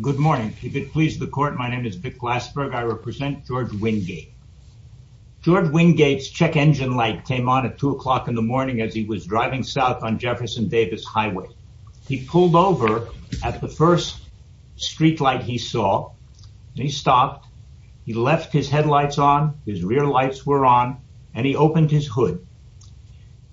Good morning. If it pleases the court, my name is Vic Glassberg. I represent George Wingate. George Wingate's check engine light came on at two o'clock in the morning as he was driving south on Jefferson Davis Highway. He pulled over at the first street light he saw and he stopped. He left his headlights on, his rear lights were on, and he opened his hood.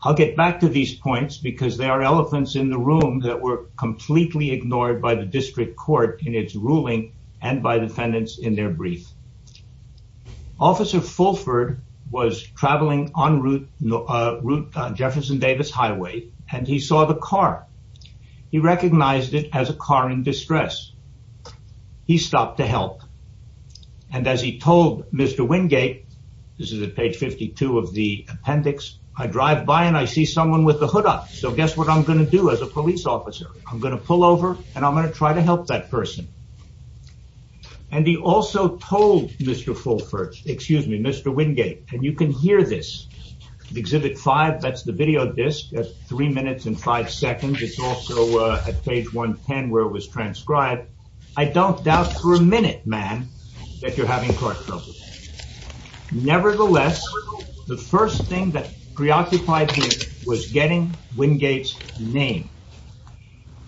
I'll get back to these points because there are elephants in the room that were completely ignored by the district court in its ruling and by defendants in their brief. Officer Fulford was traveling on route Jefferson Davis Highway and he saw the car. He recognized it as a car in distress. He stopped to help and as he told Mr. Wingate, this is at page 52 of the appendix, I drive by and I see someone with the hood up, so guess what I'm going to do as a police officer? I'm going to pull over and I'm going to try to help that person. And he also told Mr. Fulford, excuse me, Mr. Wingate, and you can hear this, exhibit five, that's the video disc at three minutes and five seconds. It's also at page 110 where it was transcribed. I don't doubt for a minute, ma'am, that you're having trouble. Nevertheless, the first thing that preoccupied me was getting Wingate's name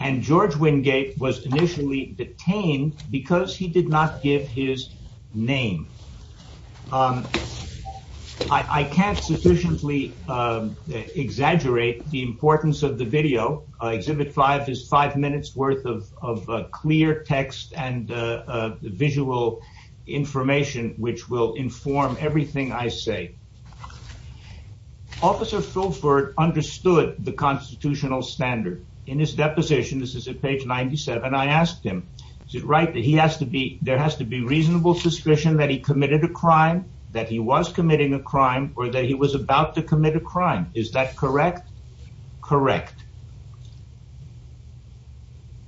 and George Wingate was initially detained because he did not give his name. I can't sufficiently exaggerate the importance of the video. Exhibit five is five minutes worth of which will inform everything I say. Officer Fulford understood the constitutional standard. In his deposition, this is at page 97, I asked him, is it right that he has to be, there has to be reasonable suspicion that he committed a crime, that he was committing a crime or that he was about to commit a crime. Is that correct? Correct.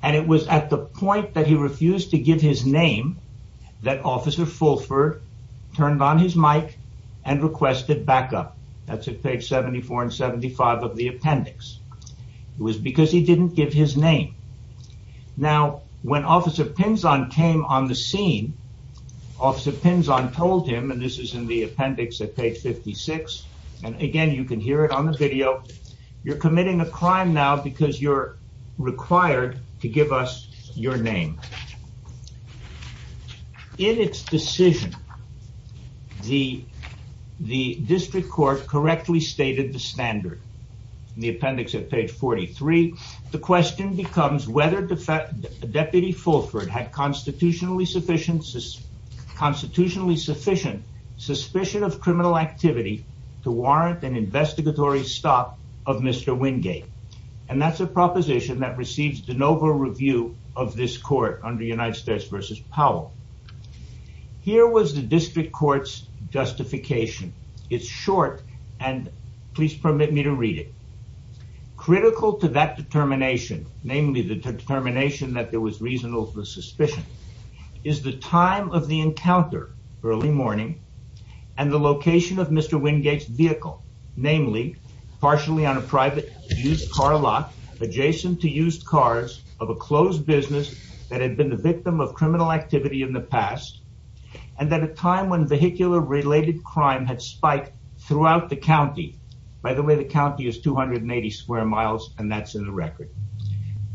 And it was at the point that he refused to give his name that officer Fulford turned on his mic and requested backup. That's at page 74 and 75 of the appendix. It was because he didn't give his name. Now, when officer Pinzon came on the scene, officer Pinzon told him, and this is in the appendix at page 56. And again, you can hear it on the video. You're committing a crime now because you're required to give us your name. In its decision, the district court correctly stated the standard. The appendix at page 43, the question becomes whether deputy Fulford had constitutionally sufficient suspicion of criminal activity to warrant an investigatory stop of Mr. Wingate. And that's a proposition that receives de novo review of this court under United States versus Powell. Here was the district court's justification. It's short and please permit me to read it. Critical to that determination, namely the determination that there was reasonable suspicion is the time of the encounter early morning and the location of Mr. Wingate's vehicle, namely partially on a private used car lot adjacent to used cars of a closed business that had been the victim of criminal activity in the past. And then a time when vehicular related crime had spiked throughout the county. By the way, the county is 280 square miles and that's in the record.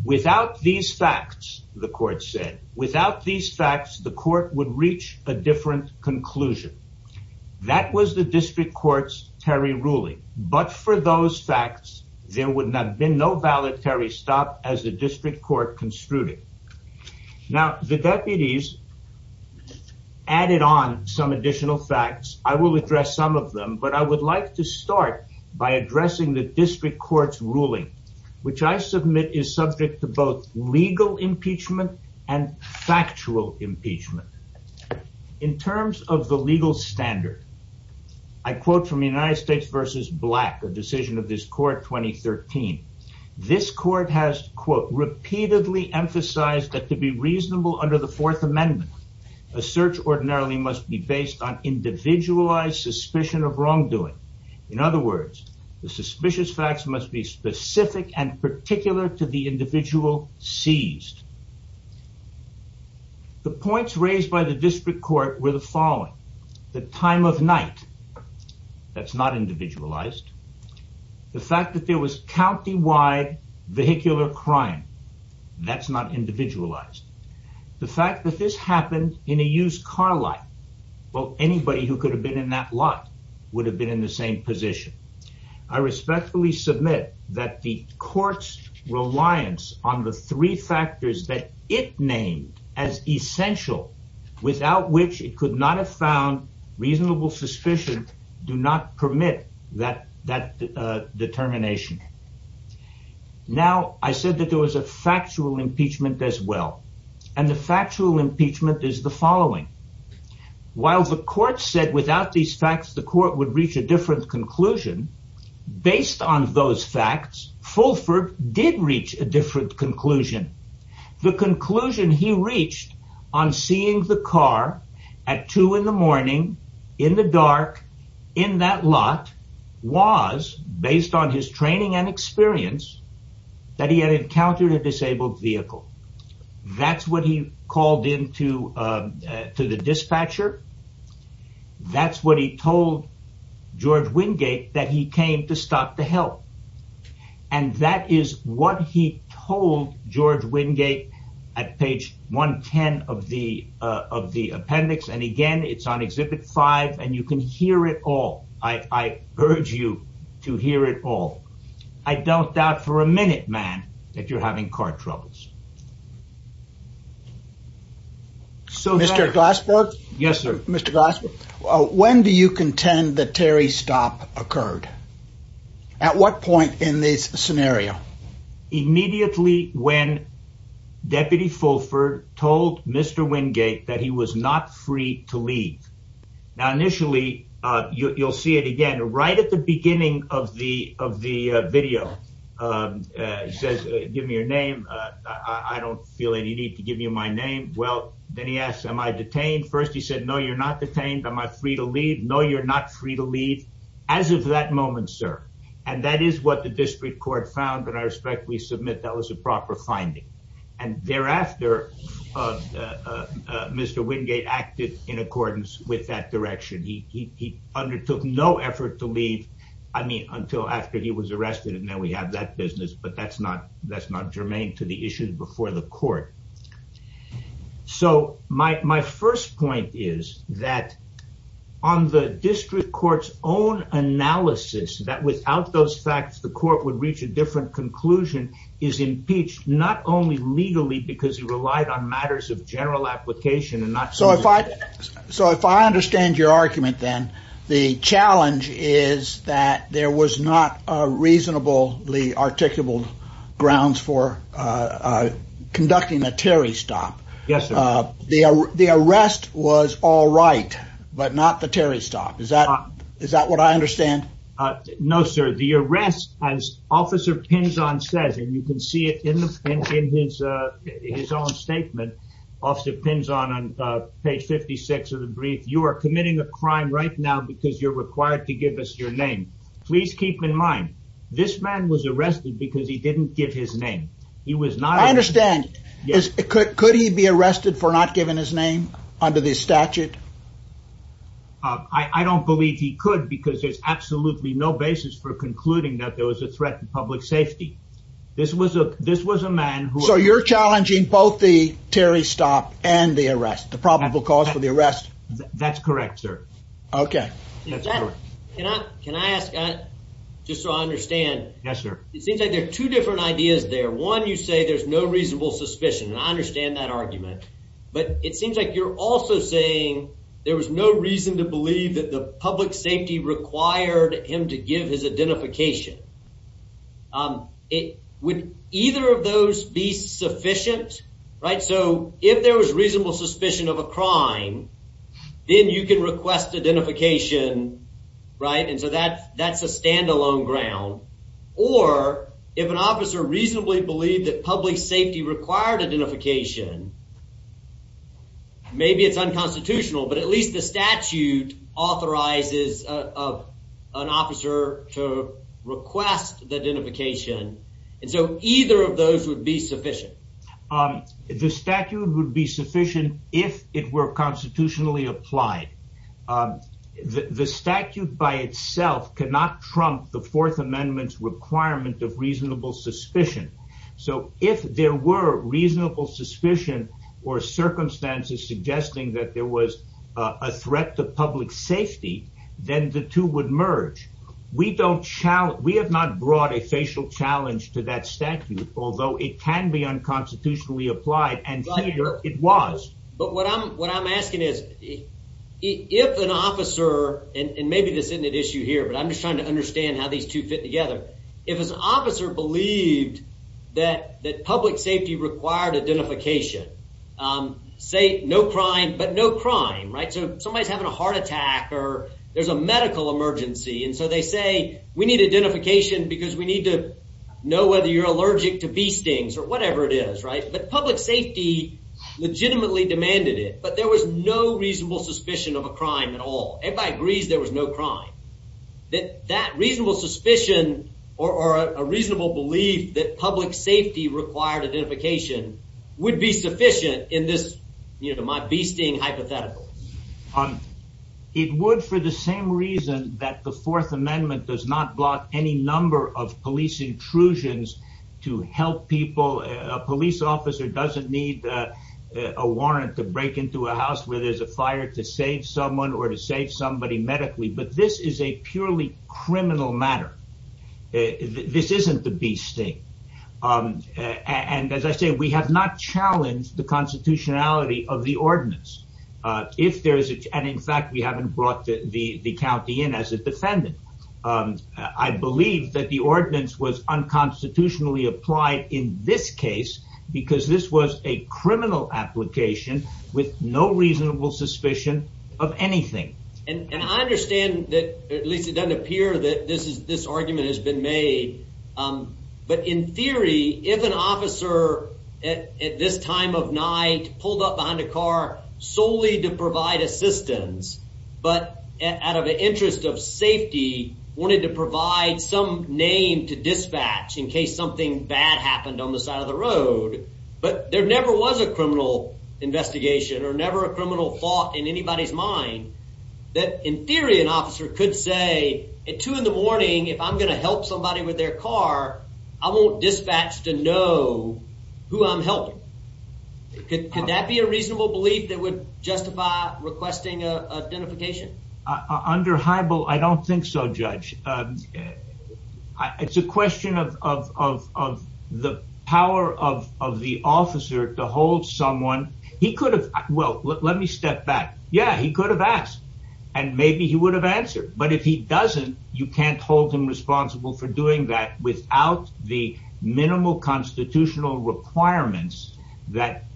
Without these facts, the court said, without these facts, the court would reach a different conclusion. That was the district court's Terry ruling. But for those facts, there would not have been no valedictory stop as the district court construed it. Now, the deputies added on some additional facts. I will address some of them, but I would like to start by addressing the district court's ruling, which I submit is subject to both legal impeachment and factual impeachment. In terms of the legal standard, I quote from United States versus Black, a decision of this court 2013. This court has quote, repeatedly emphasized that to be reasonable under the fourth amendment, a search ordinarily must be based on individualized suspicion of wrongdoing. In other words, the suspicious facts must be specific and particular to the individual seized. The points raised by the district court were the following. The time of night, that's not individualized. The fact that there was countywide vehicular crime, that's not individualized. The fact that this happened in a used car lot. Well, anybody who could have been in that lot would have been in the same position. I respectfully submit that the court's reliance on the three factors that it named as essential, without which it could not have found reasonable suspicion, do not permit that determination. Now, I said that there was a factual impeachment as well. And the factual impeachment is the based on those facts, Fulford did reach a different conclusion. The conclusion he reached on seeing the car at two in the morning, in the dark, in that lot was based on his training and experience that he had encountered a disabled vehicle. That's what he called into the dispatcher. That's what he told George Wingate that he came to stop the help. And that is what he told George Wingate at page 110 of the appendix. And again, it's on exhibit five and you can hear it all. I urge you to hear it all. I don't doubt for a minute, man, that you're having car troubles. So, Mr. Glassberg? Yes, sir. Mr. Glassberg, when do you contend that Terry's stop occurred? At what point in this scenario? Immediately when Deputy Fulford told Mr. Wingate that he was not free to leave. Now, initially, you'll see it again, right at the beginning of the video. He says, give me your name. I don't feel any need to give you my name. Well, then he asks, am I detained? First, he said, no, you're not detained. Am I free to leave? No, you're not free to leave. As of that moment, sir. And that is what the district court found. And I respectfully submit that was a proper finding. And thereafter, Mr. Wingate acted in accordance with that but that's not germane to the issue before the court. So, my first point is that on the district court's own analysis that without those facts, the court would reach a different conclusion is impeached not only legally because he relied on matters of general application and not- So, if I understand your argument, then the challenge is that there was not a reasonably articulable grounds for conducting a Terry stop. Yes, sir. The arrest was all right, but not the Terry stop. Is that what I understand? No, sir. The arrest, as Officer Pinzon says, and you can see it in his own statement, Officer Pinzon on page 56 of the brief, you are committing a crime right now because you're required to give us your name. Please keep in mind, this man was arrested because he didn't give his name. He was not- I understand. Could he be arrested for not giving his name under the statute? I don't believe he could because there's absolutely no basis for concluding that there was a man who- So, you're challenging both the Terry stop and the arrest, the probable cause for the arrest? That's correct, sir. Okay. Can I ask, just so I understand? Yes, sir. It seems like there are two different ideas there. One, you say there's no reasonable suspicion, and I understand that argument, but it seems like you're also saying there was no reason to believe that the public safety required him to give his identification. It would either of those be sufficient, right? So, if there was reasonable suspicion of a crime, then you can request identification, right? And so, that's a standalone ground. Or, if an officer reasonably believed that public safety required identification, maybe it's unconstitutional, but at least the statute authorizes an officer to request the identification. And so, either of those would be sufficient. The statute would be sufficient if it were constitutionally applied. The statute by itself cannot trump the Fourth Amendment's requirement of reasonable suspicion. So, if there were reasonable suspicion or circumstances suggesting that there was a threat to public safety, then the two would merge. We have not brought a facial challenge to that statute, although it can be unconstitutionally applied, and here it was. But what I'm asking is, if an officer, and maybe this isn't an issue here, but I'm just understanding how these two fit together. If an officer believed that public safety required identification, say no crime, but no crime, right? So, if somebody's having a heart attack or there's a medical emergency, and so they say, we need identification because we need to know whether you're allergic to bee stings or whatever it is, right? But public safety legitimately demanded it, but there was no reasonable suspicion of a crime at all. Everybody agrees there was no crime. That reasonable suspicion or a reasonable belief that public safety required identification would be sufficient in this, you know, my bee sting hypothetical. It would for the same reason that the Fourth Amendment does not block any number of police intrusions to help people. A police officer doesn't need a warrant to break into a somebody medically, but this is a purely criminal matter. This isn't the bee sting. And as I say, we have not challenged the constitutionality of the ordinance. And in fact, we haven't brought the county in as a defendant. I believe that the ordinance was unconstitutionally applied in this case because this was a criminal application with no reasonable suspicion of anything. And I understand that at least it doesn't appear that this argument has been made, but in theory, if an officer at this time of night pulled up behind a car solely to provide assistance, but out of the interest of safety, wanted to provide some name to dispatch in case something bad happened on the side of the road, but there never was a criminal investigation or never a criminal thought in anybody's mind, that in theory, an officer could say at two in the morning, if I'm going to help somebody with their car, I won't dispatch to know who I'm helping. Could that be a reasonable belief that would justify requesting identification? Under Hybel, I don't think so, Judge. It's a question of the power of the officer to hold someone. He could have, well, let me step back. Yeah, he could have asked and maybe he would have answered, but if he doesn't, you can't hold him responsible for doing that without the minimal constitutional requirements that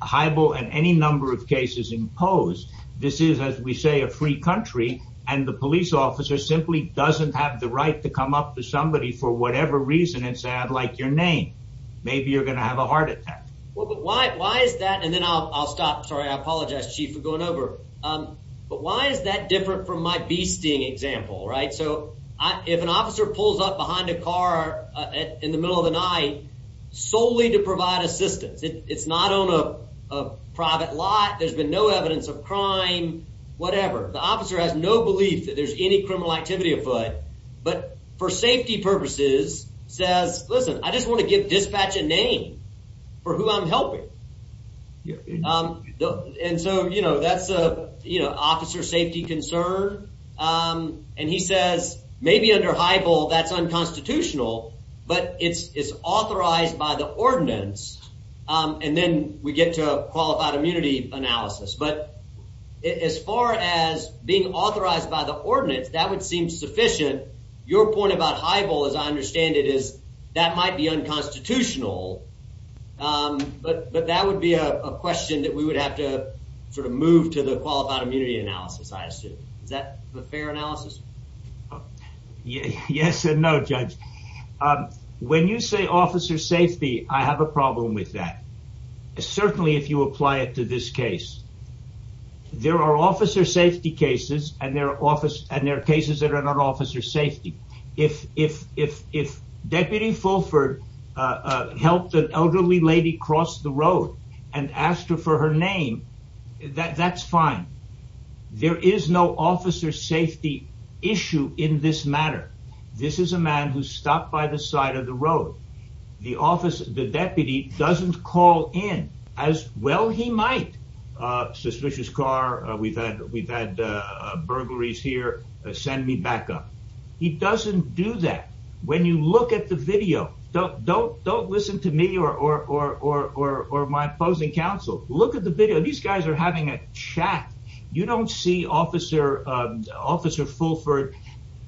Hybel and any number of cases impose. This is, as we say, a free country and the police officer simply doesn't have the right to come up to somebody for whatever reason and say, I'd like your name. Maybe you're going to have a heart attack. Well, but why is that? And then I'll stop. Sorry, I apologize, Chief, for going over. But why is that different from my bee sting example, right? So if an officer pulls up behind a car in the middle of the night solely to provide assistance, it's not on a private lot, there's been no evidence of crime, whatever. The officer has no belief that there's any criminal activity afoot, but for safety purposes says, listen, I just want to give dispatch a name for who I'm helping. And so, you know, that's a, you know, officer safety concern. And he says, maybe under Hybel that's unconstitutional, but it's authorized by the ordinance. And then we get to qualified immunity analysis. But as far as being authorized by the ordinance, that would seem sufficient. Your point about Hybel, as I understand it, is that might be unconstitutional. But that would be a question that we would have to sort of move to the qualified immunity analysis, I assume. Is that a fair analysis? Yes and no, Judge. When you say officer safety, I have a problem with that. Certainly, if you apply it to this case, there are officer safety cases and there are cases that are not officer safety. If Deputy Fulford helped an elderly lady cross the road and asked her for her name, that's fine. There is no officer safety issue in this matter. This is a man who stopped by the side of the road. The deputy doesn't call in as well he had burglaries here, send me back up. He doesn't do that. When you look at the video, don't listen to me or my opposing counsel. Look at the video. These guys are having a chat. You don't see officer Fulford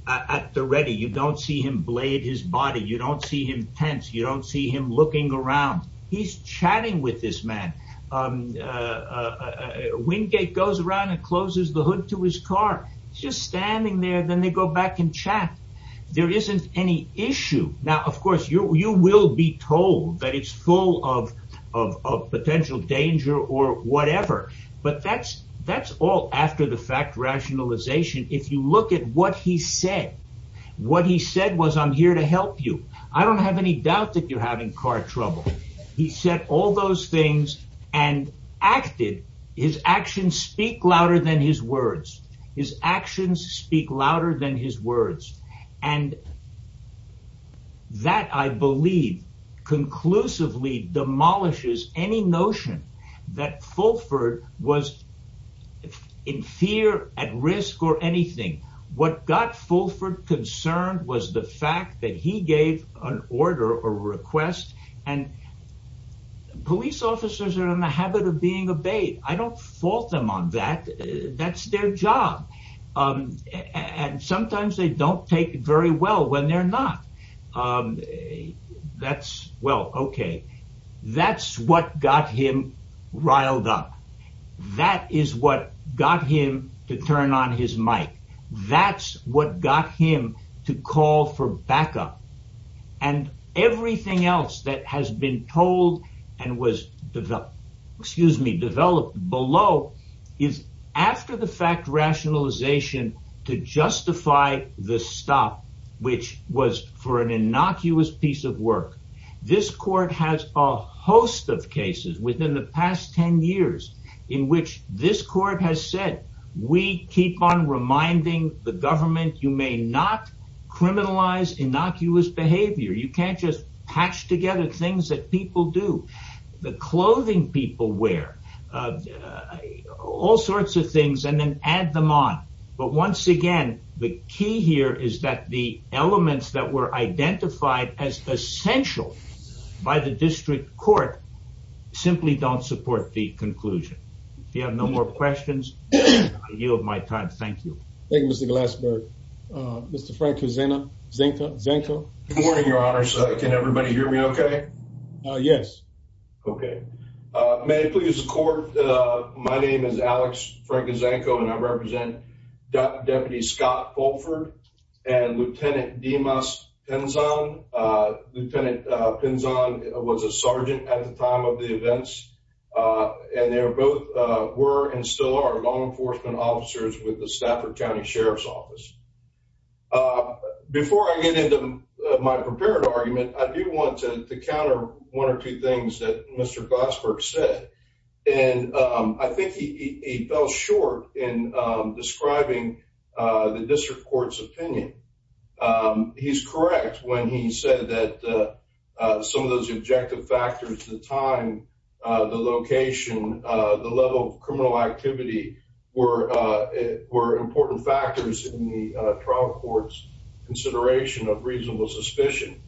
at the ready. You don't see him blade his body. You don't see him tense. You don't see him chatting with this man. Wingate goes around and closes the hood to his car. He's just standing there. Then they go back and chat. There isn't any issue. Now, of course, you will be told that it's full of potential danger or whatever. But that's all after the fact rationalization. If you look at what he said, what he said was, I'm here to help you. I don't have any doubt that you're having car trouble. He said all those things and acted. His actions speak louder than his words. His actions speak louder than his words. And that I believe conclusively demolishes any notion that Fulford was in fear at risk or anything. What got Fulford concerned was the fact that he gave an order or request and police officers are in the habit of being obeyed. I don't fault them on that. That's their job. And sometimes they don't take very well when they're not. That's what got him riled up. That is what got him to turn on his mic. That's what got him to call for backup. And everything else that has been told and was developed, excuse me, developed below is after the fact rationalization to justify the stop, which was for an innocuous piece of work. This court has a host of cases within the past 10 years in which this court has said, we keep on reminding the government, you may not criminalize innocuous behavior. You can't just patch together things that people do. The clothing people wear, all sorts of things, and then add them on. But once again, the key here is that the elements that were identified as essential by the district court simply don't support the questions. I yield my time. Thank you. Thank you, Mr. Glassberg. Mr. Frank Zanko. Good morning, your honor. Can everybody hear me okay? Yes. Okay. May I please court? My name is Alex Frank Zanko, and I represent Deputy Scott Holford and Lieutenant Dimas Pinzon. Lieutenant Pinzon was a sergeant at the time of the events, and they both were and still are law enforcement officers with the Stafford County Sheriff's Office. Before I get into my prepared argument, I do want to counter one or two things that Mr. Glassberg said, and I think he fell short in describing the district court's opinion. He's correct when he said that some of those objective factors, the time, the location, the level of criminal activity were important factors in the trial court's consideration of reasonable suspicion.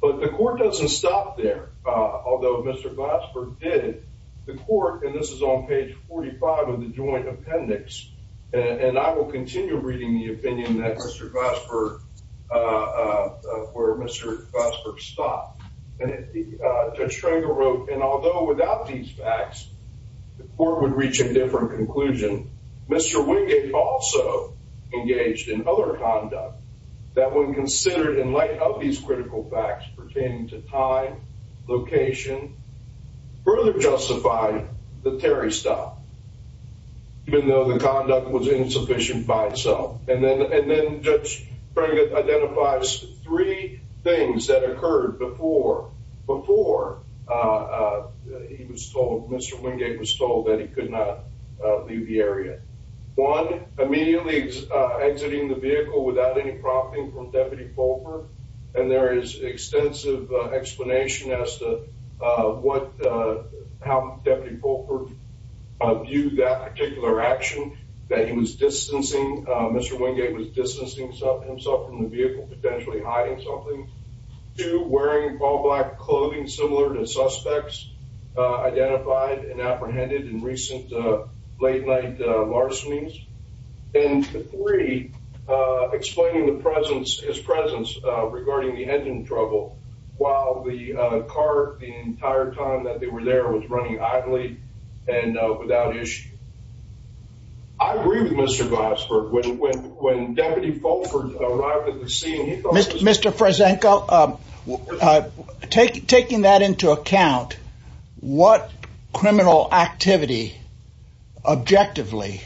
But the court doesn't stop there. Although Mr. Glassberg did, the court, and this is on page 45 of the joint appendix, and I will continue reading the opinion that Mr. Glassberg, where Mr. Glassberg stopped. Judge Schreger wrote, and although without these facts, the court would reach a different conclusion. Mr. Wingate also engaged in other conduct that when considered in light of these critical facts pertaining to time, location, further justified the Terry stop, even though the conduct was insufficient by itself. And then, and then Judge Schreger identifies three things that occurred before, before he was told, Mr. Wingate was told that he could not leave the area. One, immediately exiting the vehicle without any prompting from Deputy Fulper, and there is extensive explanation as to what, how Deputy Fulper viewed that particular action, that he was distancing, Mr. Wingate was distancing himself from the vehicle, potentially hiding something. Two, wearing all black clothing similar to suspects identified and apprehended in recent late night larcenies. And three, explaining the presence, his presence regarding the engine trouble while the car, the entire time that they were there was running idly and without issue. I agree with Mr. Glassberg, when Deputy Fulper arrived at the scene, he thought... Mr. Fresenko, taking that into account, what criminal activity objectively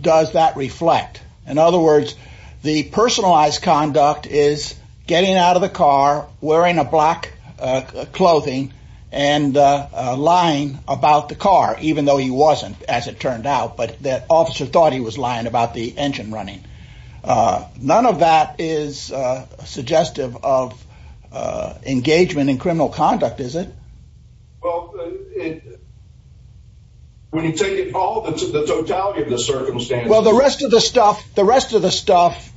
does that reflect? In other words, the personalized conduct is getting out of the car, wearing a black clothing, and lying about the car, even though he wasn't, as it turned out, but that officer thought he was lying about the engine running. None of that is suggestive of engagement in criminal conduct, is it? Well, when you take it all into the totality of the circumstances... Well, the rest of the stuff, the rest of the stuff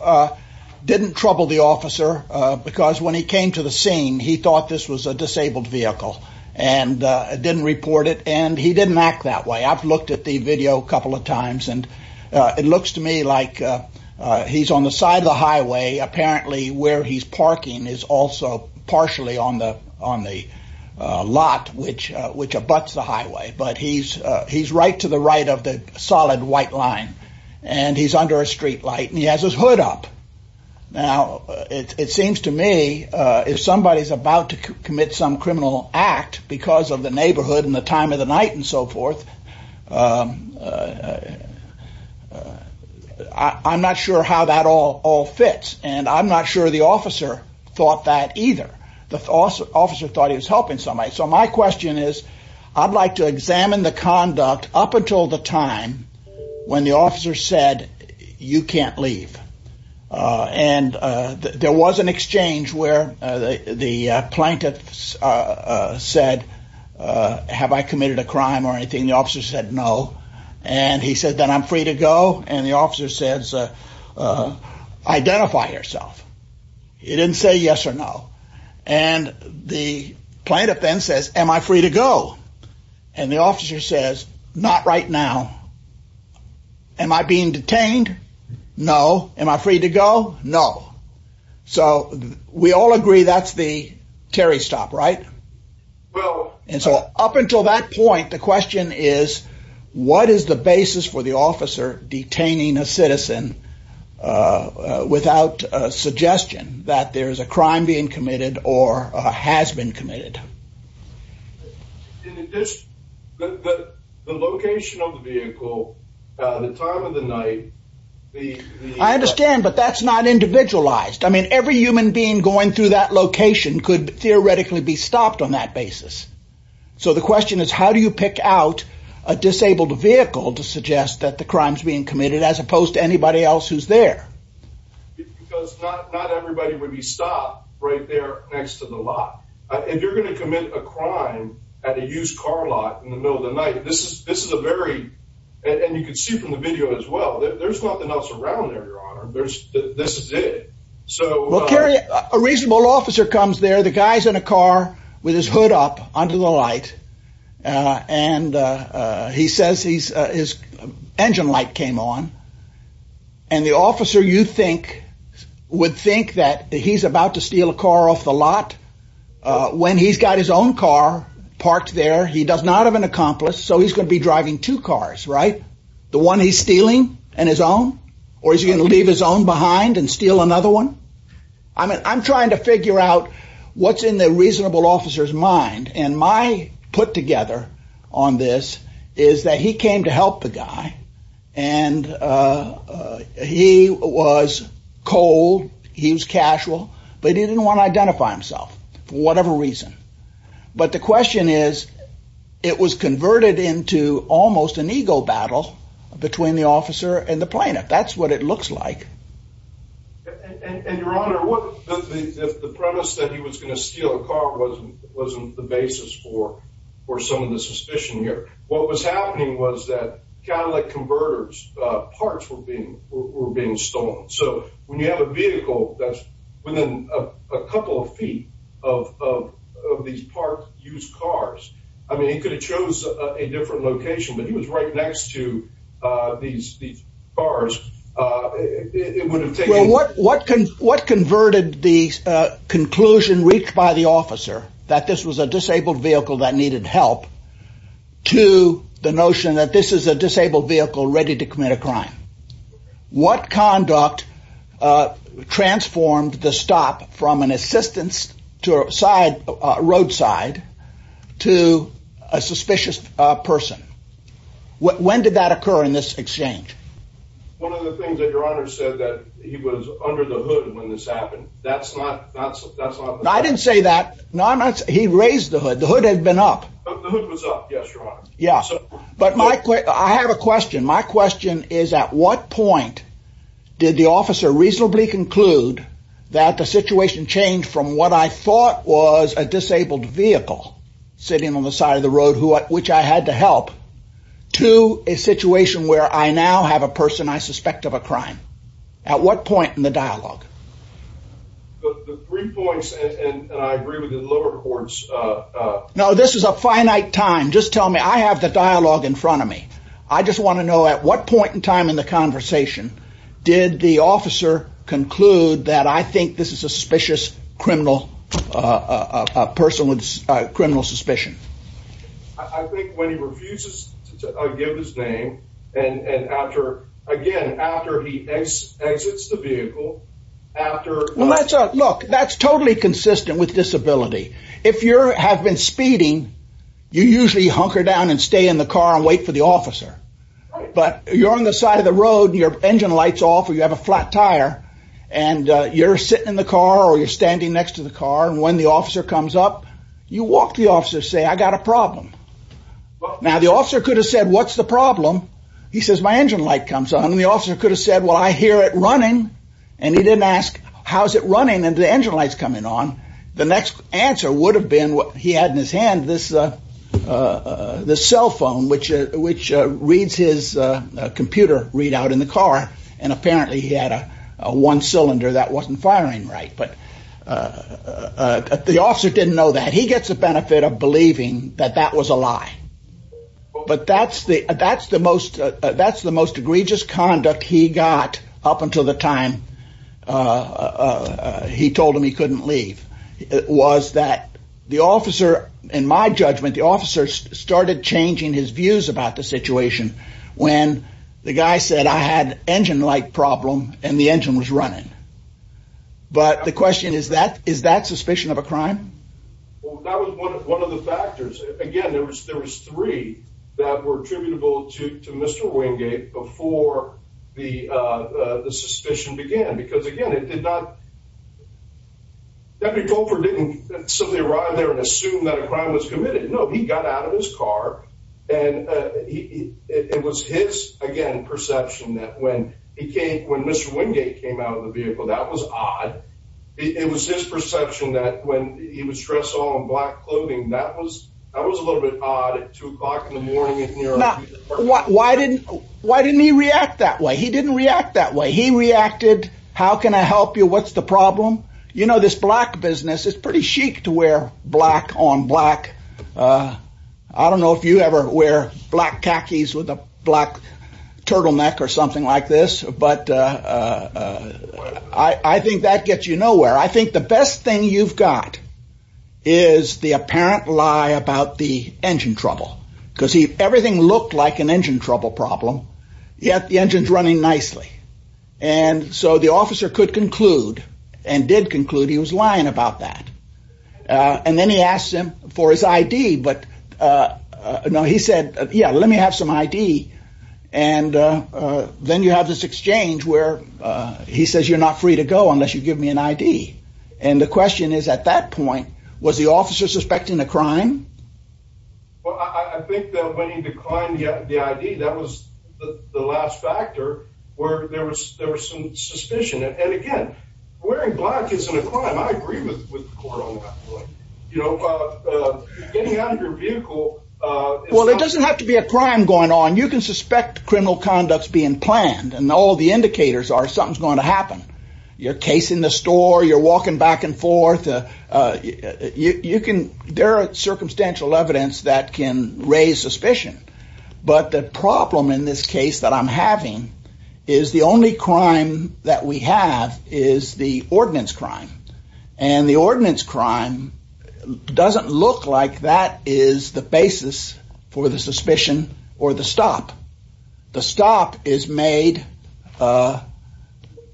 didn't trouble the officer, because when he came to the scene, he thought this was a disabled vehicle, and didn't report it, and he didn't act that way. I've looked at the video a couple of times and it looks to me like he's on the side of the highway, apparently where he's parking is also partially on the lot which abuts the highway, but he's right to the right of the solid white line, and he's under a street light, and he has his hood up. Now, it seems to me, if somebody's about to commit some criminal act because of the I'm not sure how that all fits, and I'm not sure the officer thought that either. The officer thought he was helping somebody, so my question is, I'd like to examine the conduct up until the time when the officer said, you can't leave, and there was an exchange where the plaintiff said, have I committed a crime or anything? The officer said no, and he said, then I'm free to go, and the officer says, identify yourself. He didn't say yes or no, and the plaintiff then says, am I free to go? And the officer says, not right now. Am I being detained? No. Am I free to go? No. So we all agree that's the basis for the officer detaining a citizen without a suggestion that there's a crime being committed or has been committed. The location of the vehicle, the time of the night. I understand, but that's not individualized. I mean, every human being going through that location could theoretically be stopped on that basis. So the question is, how do you pick out a disabled vehicle to suggest that the crime's being committed as opposed to anybody else who's there? Because not everybody would be stopped right there next to the lot. If you're going to commit a crime at a used car lot in the middle of the night, this is a very, and you can see from the video as well, there's nothing else around there, your honor. This is it. A reasonable officer comes there, the guy's in a car with his hood up under the light, and he says his engine light came on, and the officer you think would think that he's about to steal a car off the lot when he's got his own car parked there. He does not have an accomplice, so he's going to be driving two cars, right? The one he's stealing and his own, or he's going to leave his own behind and steal another one. I'm trying to figure out what's in the reasonable officer's mind, and my put together on this is that he came to help the guy, and he was cold, he was casual, but he didn't want to identify himself for whatever reason. But the question is, it was converted into almost an ego battle between the officer and the plaintiff. That's what it looks like. And your honor, the premise that he was going to steal a car wasn't the basis for some of the suspicion here. What was happening was that kind of like converters, parts were being stolen. So when you have a vehicle that's within a couple of feet of these parked used cars, I mean, he could have chose a different location, but he was right next to these cars. What converted the conclusion reached by the officer that this was a disabled vehicle that needed help to the notion that this is a disabled vehicle ready to commit a crime? What conduct transformed the stop from an assistance to a side roadside to a suspicious person? When did that occur in this exchange? One of the things that your honor said that he was under the hood when this happened. That's not that's not I didn't say that. No, I'm not. He raised the hood. The hood had been up. The hood was up. Yes, your honor. Yeah. But Mike, I have a question. My question is, at what point did the officer reasonably conclude that the situation changed from what I thought was a disabled vehicle sitting on the side of the road who at which I had to help to a situation where I now have a person I suspect of a crime? At what point in the dialogue? The three points and I agree with the lower courts. Now, this is a finite time. Just tell me. I have the dialogue in front of me. I just want to know at what point in time in the conversation did the officer conclude that I think this is a suspicious criminal person with criminal suspicion? I think when he refuses to give his name and after again, after he exits the vehicle after. Look, that's totally consistent with disability. If you have been speeding, you usually hunker down and stay in the car and wait for the officer. But you're on the side of the road, your engine lights off or you have a flat tire and you're sitting in the car or you're standing next to the car. And when the officer comes up, you walk the officer, say, I got a problem. Now, the officer could have said, what's the problem? He says, my engine light comes on. The officer could have said, well, I hear it running. And he didn't ask, how's it running? And the engine lights coming on. The next answer would have been what he had in his hand, this cell phone, which reads his computer readout in the car. And apparently he had a one cylinder that wasn't firing right. But the officer didn't know that. He gets the benefit of believing that that was a lie. But that's the that's the most that's the most egregious conduct he got up until the time he told him he couldn't leave. It was that the officer, in my judgment, the officer started changing his views about the situation when the guy said, I had an engine light problem and the engine was running. But the question is that is that suspicion of a crime? That was one of one of the factors. Again, there was there was three that were attributable to to Mr. Wingate before the suspicion began, because, again, it did not. Deputy Colfer didn't simply arrive there and assume that a crime was committed. No, he got out of his car and it was his, again, perception that when he came when Mr. Wingate came out of the vehicle, that was odd. It was his perception that when he was dressed all in black clothing, that was that was a little bit odd at two o'clock in the morning. Why didn't why didn't he react that way? He didn't react that way. He reacted. How can I help you? What's the problem? You know, this black business is pretty chic to wear black on black. I don't know if you ever wear black khakis with a black turtleneck or something like this. But I think that gets you nowhere. I think the best thing you've got is the apparent lie about the engine trouble, because everything looked like an engine trouble problem. Yet the engine's running nicely. And so the officer could conclude and did conclude he was lying about that. And then he asked him for his I.D. But no, he said, yeah, let me have some I.D. And then you have this exchange where he says you're not free to go unless you give me an I.D. And the question is, at that point, was the officer suspecting a crime? Well, I think that when he declined the I.D., that was the last factor where there was there was some suspicion. And again, wearing black isn't a crime. I agree with the court on that point. You know, getting out of your vehicle. Well, it doesn't have to be a crime going on. You can suspect criminal conducts being planned and all the indicators are something's going to happen. You're casing the store. You're walking back and forth. You can there are circumstantial evidence that can raise suspicion. But the problem in this case that I'm having is the only crime that we have is the ordinance crime. And the ordinance crime doesn't look like that is the the stop is made.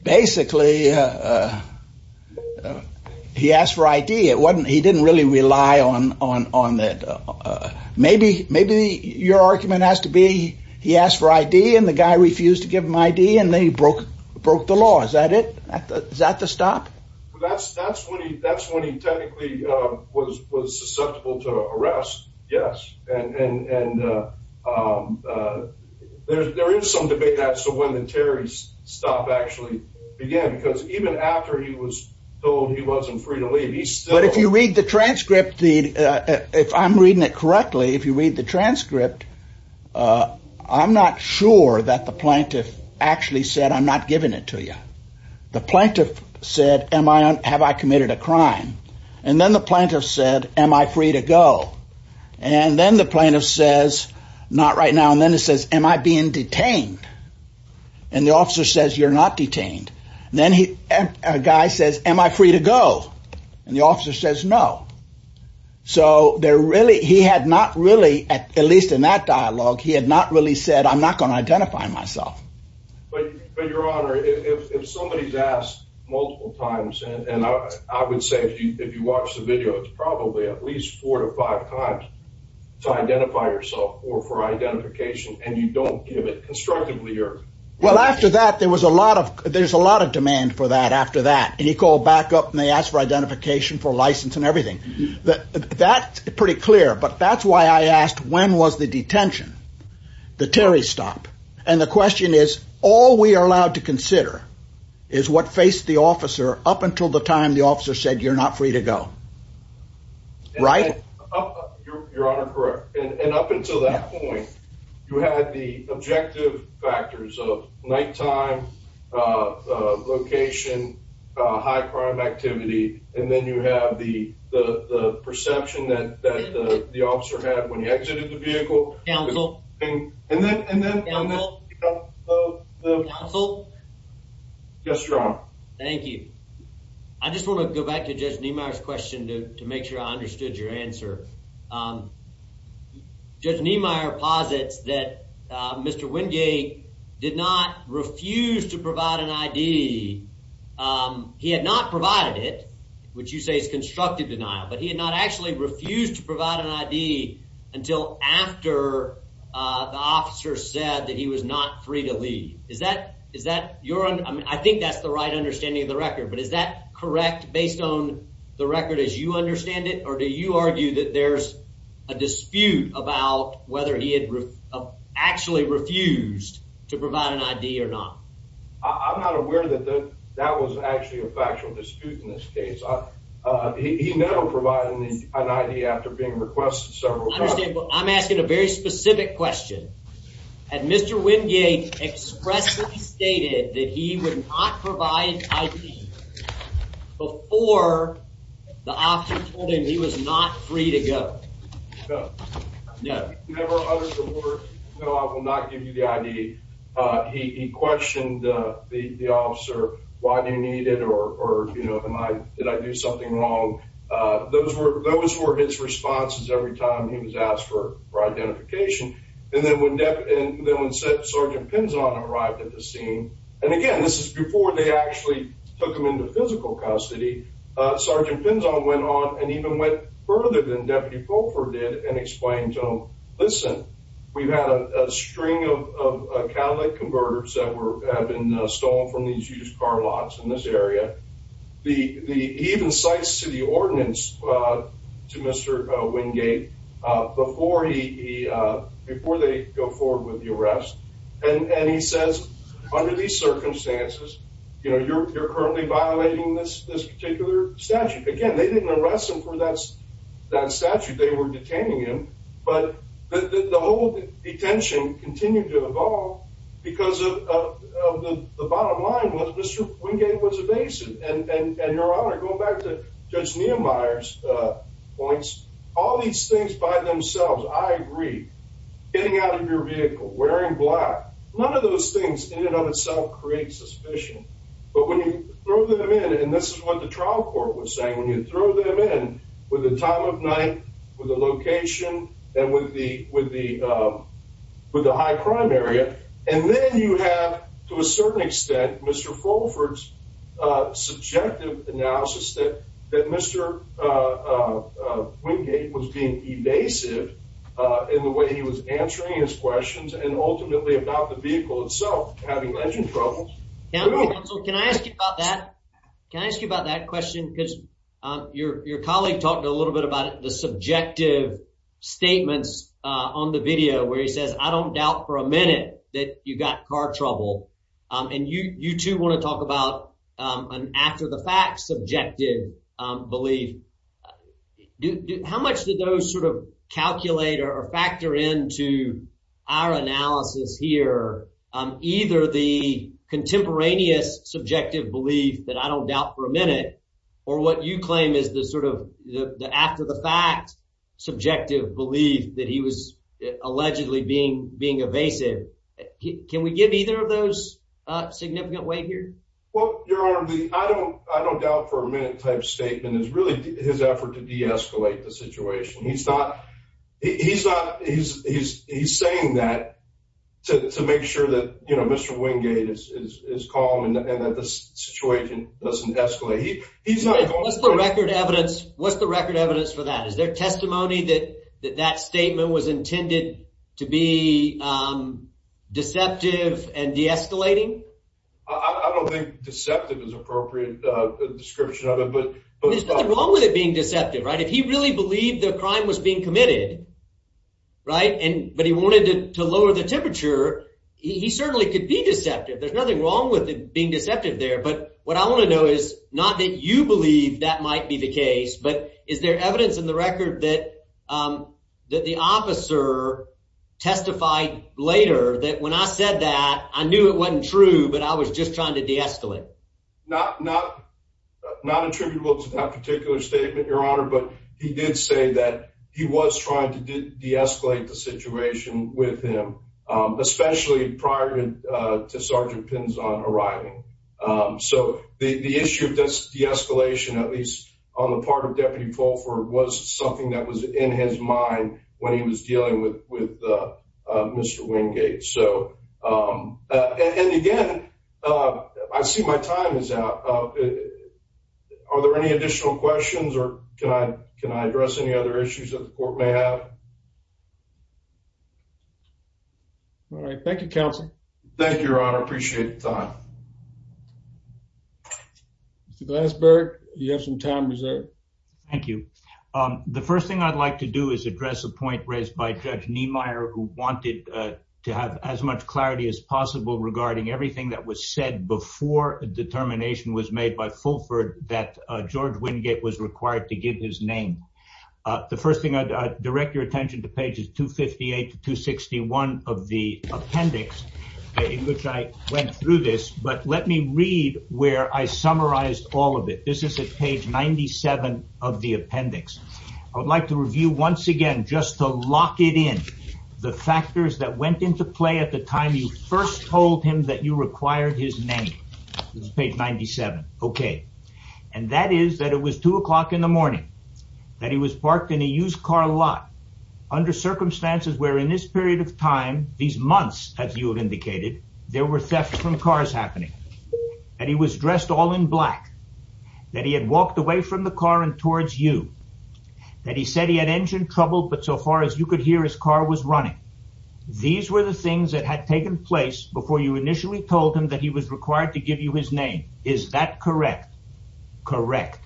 Basically, he asked for I.D. It wasn't he didn't really rely on on on that. Maybe maybe your argument has to be he asked for I.D. and the guy refused to give him I.D. and they broke broke the law. Is that it? Is that the stop? That's that's what he that's there is some debate as to when the Terry's stop actually began, because even after he was told he wasn't free to leave. But if you read the transcript, if I'm reading it correctly, if you read the transcript, I'm not sure that the plaintiff actually said, I'm not giving it to you. The plaintiff said, am I have I committed a crime? And then the plaintiff said, am I free to go? And then the plaintiff says, not right now. And then it says, am I being detained? And the officer says, you're not detained. Then a guy says, am I free to go? And the officer says, no. So they're really he had not really at least in that dialogue, he had not really said, I'm not going to identify myself. But your honor, if somebody's asked multiple times and I would say, if you watch the video, it's probably at least four to five times to identify yourself or for identification, and you don't give it constructively. Well, after that, there was a lot of there's a lot of demand for that after that, and he called back up and they asked for identification for license and everything that that's pretty clear. But that's why I asked when was the detention, the Terry stop. And the question is, all we are allowed to consider is what faced the officer up until the time the officer said, you're not free to go. Right? Your honor, correct. And up until that point, you had the objective factors of nighttime location, high crime activity, and then you have the perception that the officer had when he just wrong. Thank you. I just want to go back to just me. My question to make sure I understood your answer. Um, just me. Meyer posits that Mr Wingate did not refuse to provide an I d. Um, he had not provided it, which you say is constructive denial, but he had not actually refused to provide an I d until after the officer said that he was not free to leave. Is that Is that you're on? I think that's the right understanding of the record. But is that correct? Based on the record as you understand it, or do you argue that there's a dispute about whether he had actually refused to provide an I d or not? I'm not aware that that was actually a factual dispute in this case. Uh, you know, providing an idea after being requested I'm asking a very specific question. And Mr Wingate expressly stated that he would not provide before the officer told him he was not free to go. No, no, no. I will not give you the I d. Uh, he questioned the officer. Why do you need it? Or, you know, am I Did I do something wrong? Uh, those were those were his responses every time he was asked for identification. And then when that and then when said Sergeant Pinson arrived at the scene and again, this is before they actually took him into physical custody. Sergeant Pinson went on and even went further than Deputy Pulford did and explained to him. Listen, we've had a string of Cadillac City ordinance to Mr Wingate before he before they go forward with the arrest. And he says, under these circumstances, you know, you're currently violating this particular statute. Again, they didn't arrest him for that. That statute they were detaining him. But the whole detention continued to evolve because of the bottom line was Mr Wingate was evasive. And your Judge Nehemiah's points all these things by themselves. I agree getting out of your vehicle, wearing black. None of those things in and of itself creates suspicion. But when you throw them in, and this is what the trial court was saying when you throw them in with the time of night, with the location and with the with the with the high crime area. And then you have, to a certain extent, Mr. Fulford's subjective analysis that that Mr. Wingate was being evasive in the way he was answering his questions and ultimately about the vehicle itself having engine problems. Can I ask you about that? Can I ask you about that question? Because your colleague talked a little bit about the subjective statements on the video where he says, I don't doubt for a minute. And you too want to talk about an after the fact subjective belief. How much did those sort of calculate or factor into our analysis here? Either the contemporaneous subjective belief that I don't doubt for a minute, or what you claim is the sort of after the fact subjective belief that he was allegedly being evasive. Can we give either of those a significant weight here? Well, Your Honor, I don't doubt for a minute type statement is really his effort to deescalate the situation. He's saying that to make sure that Mr. Wingate is calm and that this situation doesn't escalate. What's the record evidence for that? Is there escalating? I don't think deceptive is appropriate description of it, but there's nothing wrong with it being deceptive, right? If he really believed the crime was being committed, right? And but he wanted to lower the temperature, he certainly could be deceptive. There's nothing wrong with being deceptive there. But what I want to know is not that you believe that might be the case, but is there evidence in the record that the officer testified later that when I said that I knew it wasn't true, but I was just trying to deescalate? Not not not attributable to that particular statement, Your Honor, but he did say that he was trying to deescalate the situation with him, especially prior to Sergeant Pinzon arriving. So the issue of this deescalation, at least on the part of Deputy Pulford, was something that was in his mind when he was dealing with Mr Wingate. So and again, I see my time is out. Are there any additional questions, or can I address any other issues that the court may have? All right. Thank you, Counsel. Thank you, Your Honor. I appreciate the time. Mr. Glasberg, you have some time reserved. Thank you. The first thing I'd like to do is address a point raised by Judge Niemeyer, who wanted to have as much clarity as possible regarding everything that was said before a determination was made by Pulford that George Wingate was required to give his name. The first thing I'd direct your attention to page is 258 to 261 of the appendix in which I went through this, but let me read where I summarized all of it. This is at page 97 of the appendix. I would like to review once again just to lock it in the factors that went into play at the time you first told him that you required his name. This is page 97. Okay. And that is that it was two o'clock in the morning that he was parked in a used car lot under circumstances where in this period of time, these months, as you have indicated, there were thefts from cars happening, that he was dressed all in black, that he had walked away from the car and towards you, that he said he had engine trouble, but so far as you could hear his car was running. These were the things that had taken place before you initially told him that he was required to give you his name. Is that correct? Correct.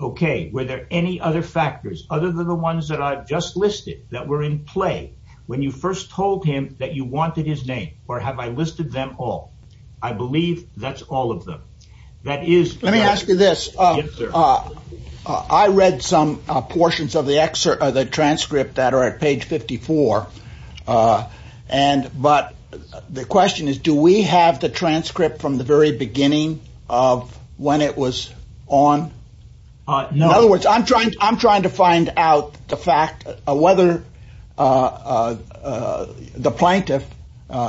Okay. Were there any other factors other than the ones that I've just listed that were in play when you first told him that you listed them all? I believe that's all of them. Let me ask you this. I read some portions of the transcript that are at page 54. But the question is, do we have the transcript from the very beginning of when it was on? In other words, I'm trying to find out the fact of whether the plaintiff,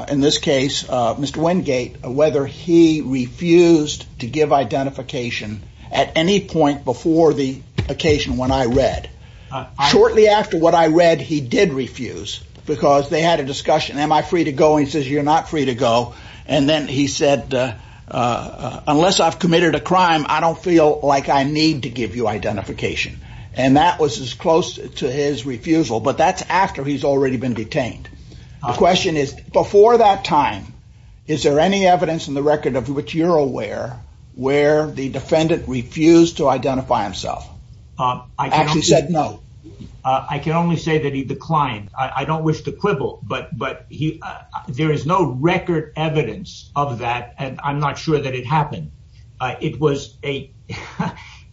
in this case, Mr. Wingate, whether he refused to give identification at any point before the occasion when I read. Shortly after what I read, he did refuse because they had a discussion. Am I free to go? He says, you're not free to go. And then he said, unless I've committed a crime, I don't feel like I need to give you identification. And that was as close to his refusal, but that's after he's already been detained. The question is, before that time, is there any evidence in the record of which you're aware, where the defendant refused to identify himself? Actually said no. I can only say that he declined. I don't wish to quibble, but there is no record evidence of that. And I'm not sure that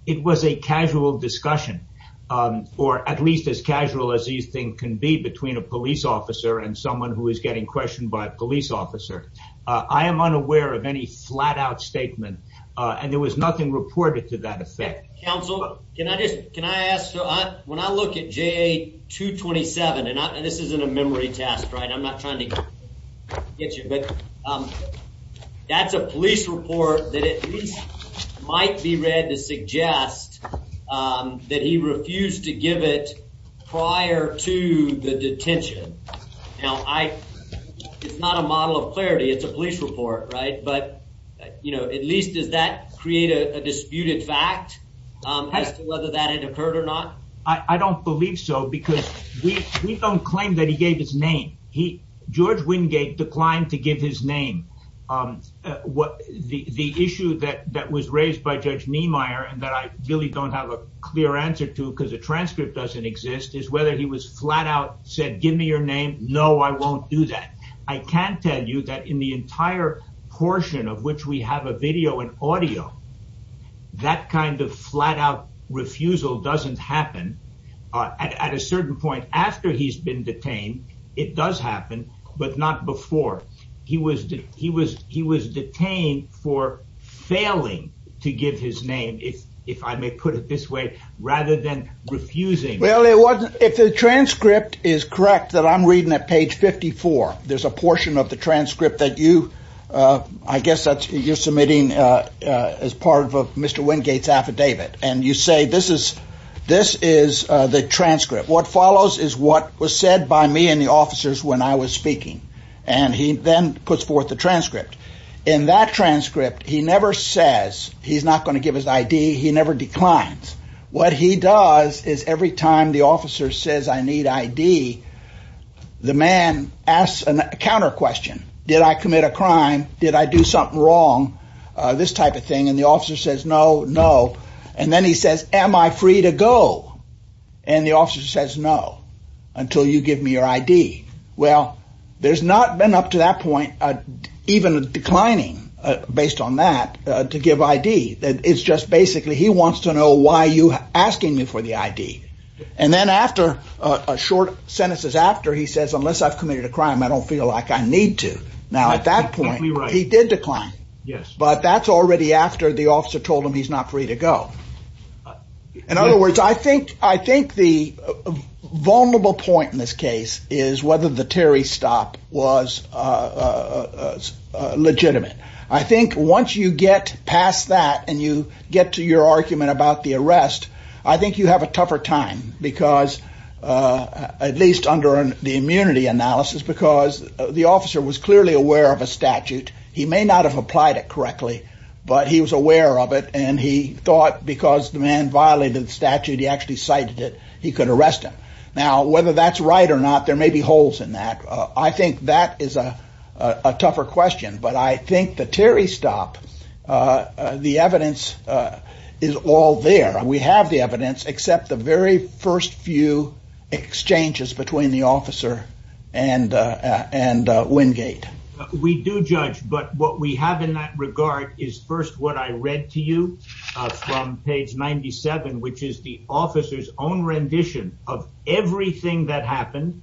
it was a casual discussion, or at least as casual as you think can be between a police officer and someone who is getting questioned by a police officer. I am unaware of any flat-out statement, and there was nothing reported to that effect. Counsel, can I ask, when I look at JA-227, and this isn't a memory test, right? I'm not trying to get you, but that's a police report that at least might be read to suggest that he refused to give it prior to the detention. Now, it's not a model of clarity. It's a police report, right? But at least, does that create a disputed fact as to whether that had occurred or not? I don't believe so, because we don't claim that he gave his name. George Wingate declined to give his name. The issue that was raised by Judge Niemeyer, and that I really don't have a clear answer to, because the transcript doesn't exist, is whether he was flat-out, said, give me your name. No, I won't do that. I can tell you that in the entire portion of which we have a video and audio, that kind of flat-out refusal doesn't happen. At a certain point after he's been detained, it does happen, but not before. He was detained for failing to give his name, if I may put it this way, rather than refusing. Well, if the transcript is correct, that I'm reading at page 54, there's a portion of the transcript that you, I guess that you're submitting as part of Mr. Wingate's affidavit, and you say this is the transcript. What follows is what was said by me and the officers when I was speaking, and he then puts forth the transcript. In that transcript, he never says he's not going to give his ID. He never declines. What he does is every time the officer says I need ID, the man asks a counter question. Did I commit a crime? Did I do something wrong? This type of thing. And the officer says, no, no. And then he says, am I free to go? And the officer says, no, until you give me your ID. Well, there's not been up to that point, even declining based on that, to give ID. It's just basically he wants to know why are you asking me for the ID? And then after a short sentence is after, he says, unless I've committed a crime, I don't feel like I need to. Now, at that point, he did decline. But that's already after the officer told him he's not free to go. In other words, I think the vulnerable point in this case is whether the Terry stop was legitimate. I think once you get past that, and you get to your argument about the arrest, I think you have a tougher time because at least under the immunity analysis, because the officer was clearly aware of a statute. He may not have applied it correctly, but he was aware of it. And he thought because the man violated the statute, he actually cited it, he could arrest him. Now, whether that's right or not, there may be holes in that. I think that is a tougher question. But I think the Terry stop, the evidence is all there, we have the evidence except the very first few exchanges between the officer and, and Wingate. We do judge but what we have in that regard is first what I read to you from page 97, which is the officer's own rendition of everything that happened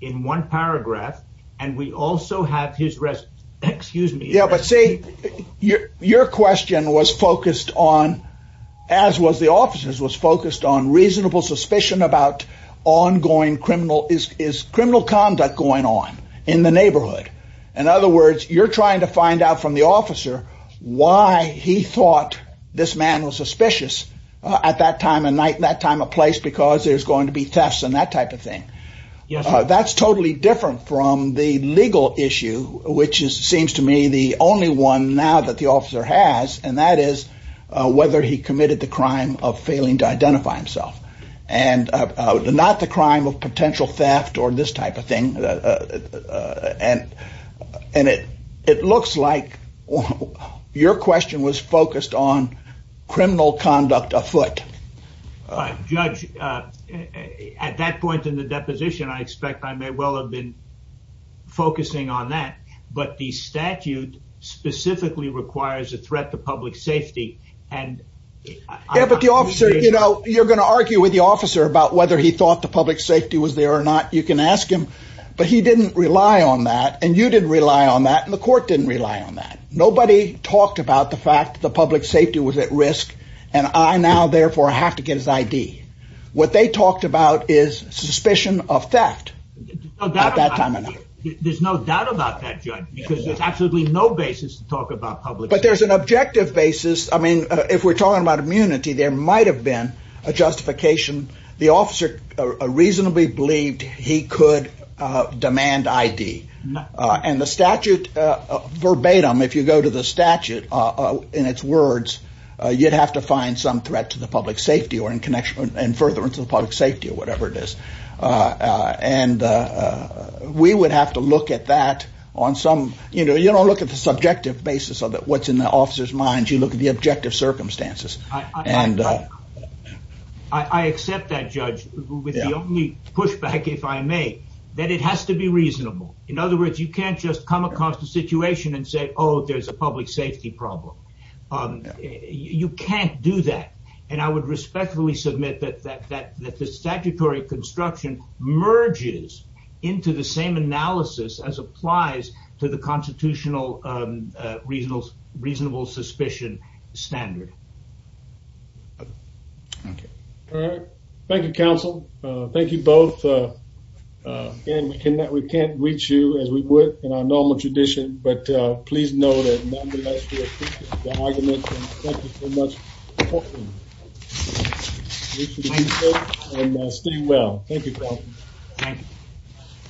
in one paragraph. And we also have his rest. Excuse me. Yeah, but see, your your question was focused on, as was the officers was focused on reasonable suspicion about ongoing criminal is criminal conduct going on in the neighborhood. In other words, you're trying to find out from the officer why he thought this man was suspicious at that time and night that time a place because there's going to be tests and that type of thing. Yeah, that's totally different from the legal issue, which is seems to me the only one now that the officer has, and that is whether he committed the crime of failing to identify himself, and not the crime of potential theft or this type of thing. And, and it, it looks like your question was focused on criminal conduct afoot. Judge, at that point in the deposition, I expect I may well have been focusing on that. But the statute specifically requires a threat to public safety. And the officer, you know, you're going to argue with the officer about whether he thought the he didn't rely on that. And you didn't rely on that. And the court didn't rely on that. Nobody talked about the fact that the public safety was at risk. And I now therefore have to get his ID. What they talked about is suspicion of theft. There's no doubt about that, judge, because there's absolutely no basis to talk about public but there's an objective basis. I mean, if we're talking about immunity, there might have been a justification. The officer reasonably believed he could demand ID. And the statute, verbatim, if you go to the statute, in its words, you'd have to find some threat to the public safety or in connection and further into the public safety or whatever it is. And we would have to look at that on some, you know, you don't look at the subjective basis of what's in the officer's mind, you look at the objective with the only pushback, if I may, that it has to be reasonable. In other words, you can't just come across the situation and say, oh, there's a public safety problem. You can't do that. And I would respectfully submit that the statutory construction merges into the same analysis as applies to the constitutional reasonable suspicion standard. Okay. All right. Thank you, counsel. Thank you both. Again, we can't reach you as we would in our normal tradition, but please know that nonetheless, we appreciate the argument and thank you so much. And stay well. Thank you.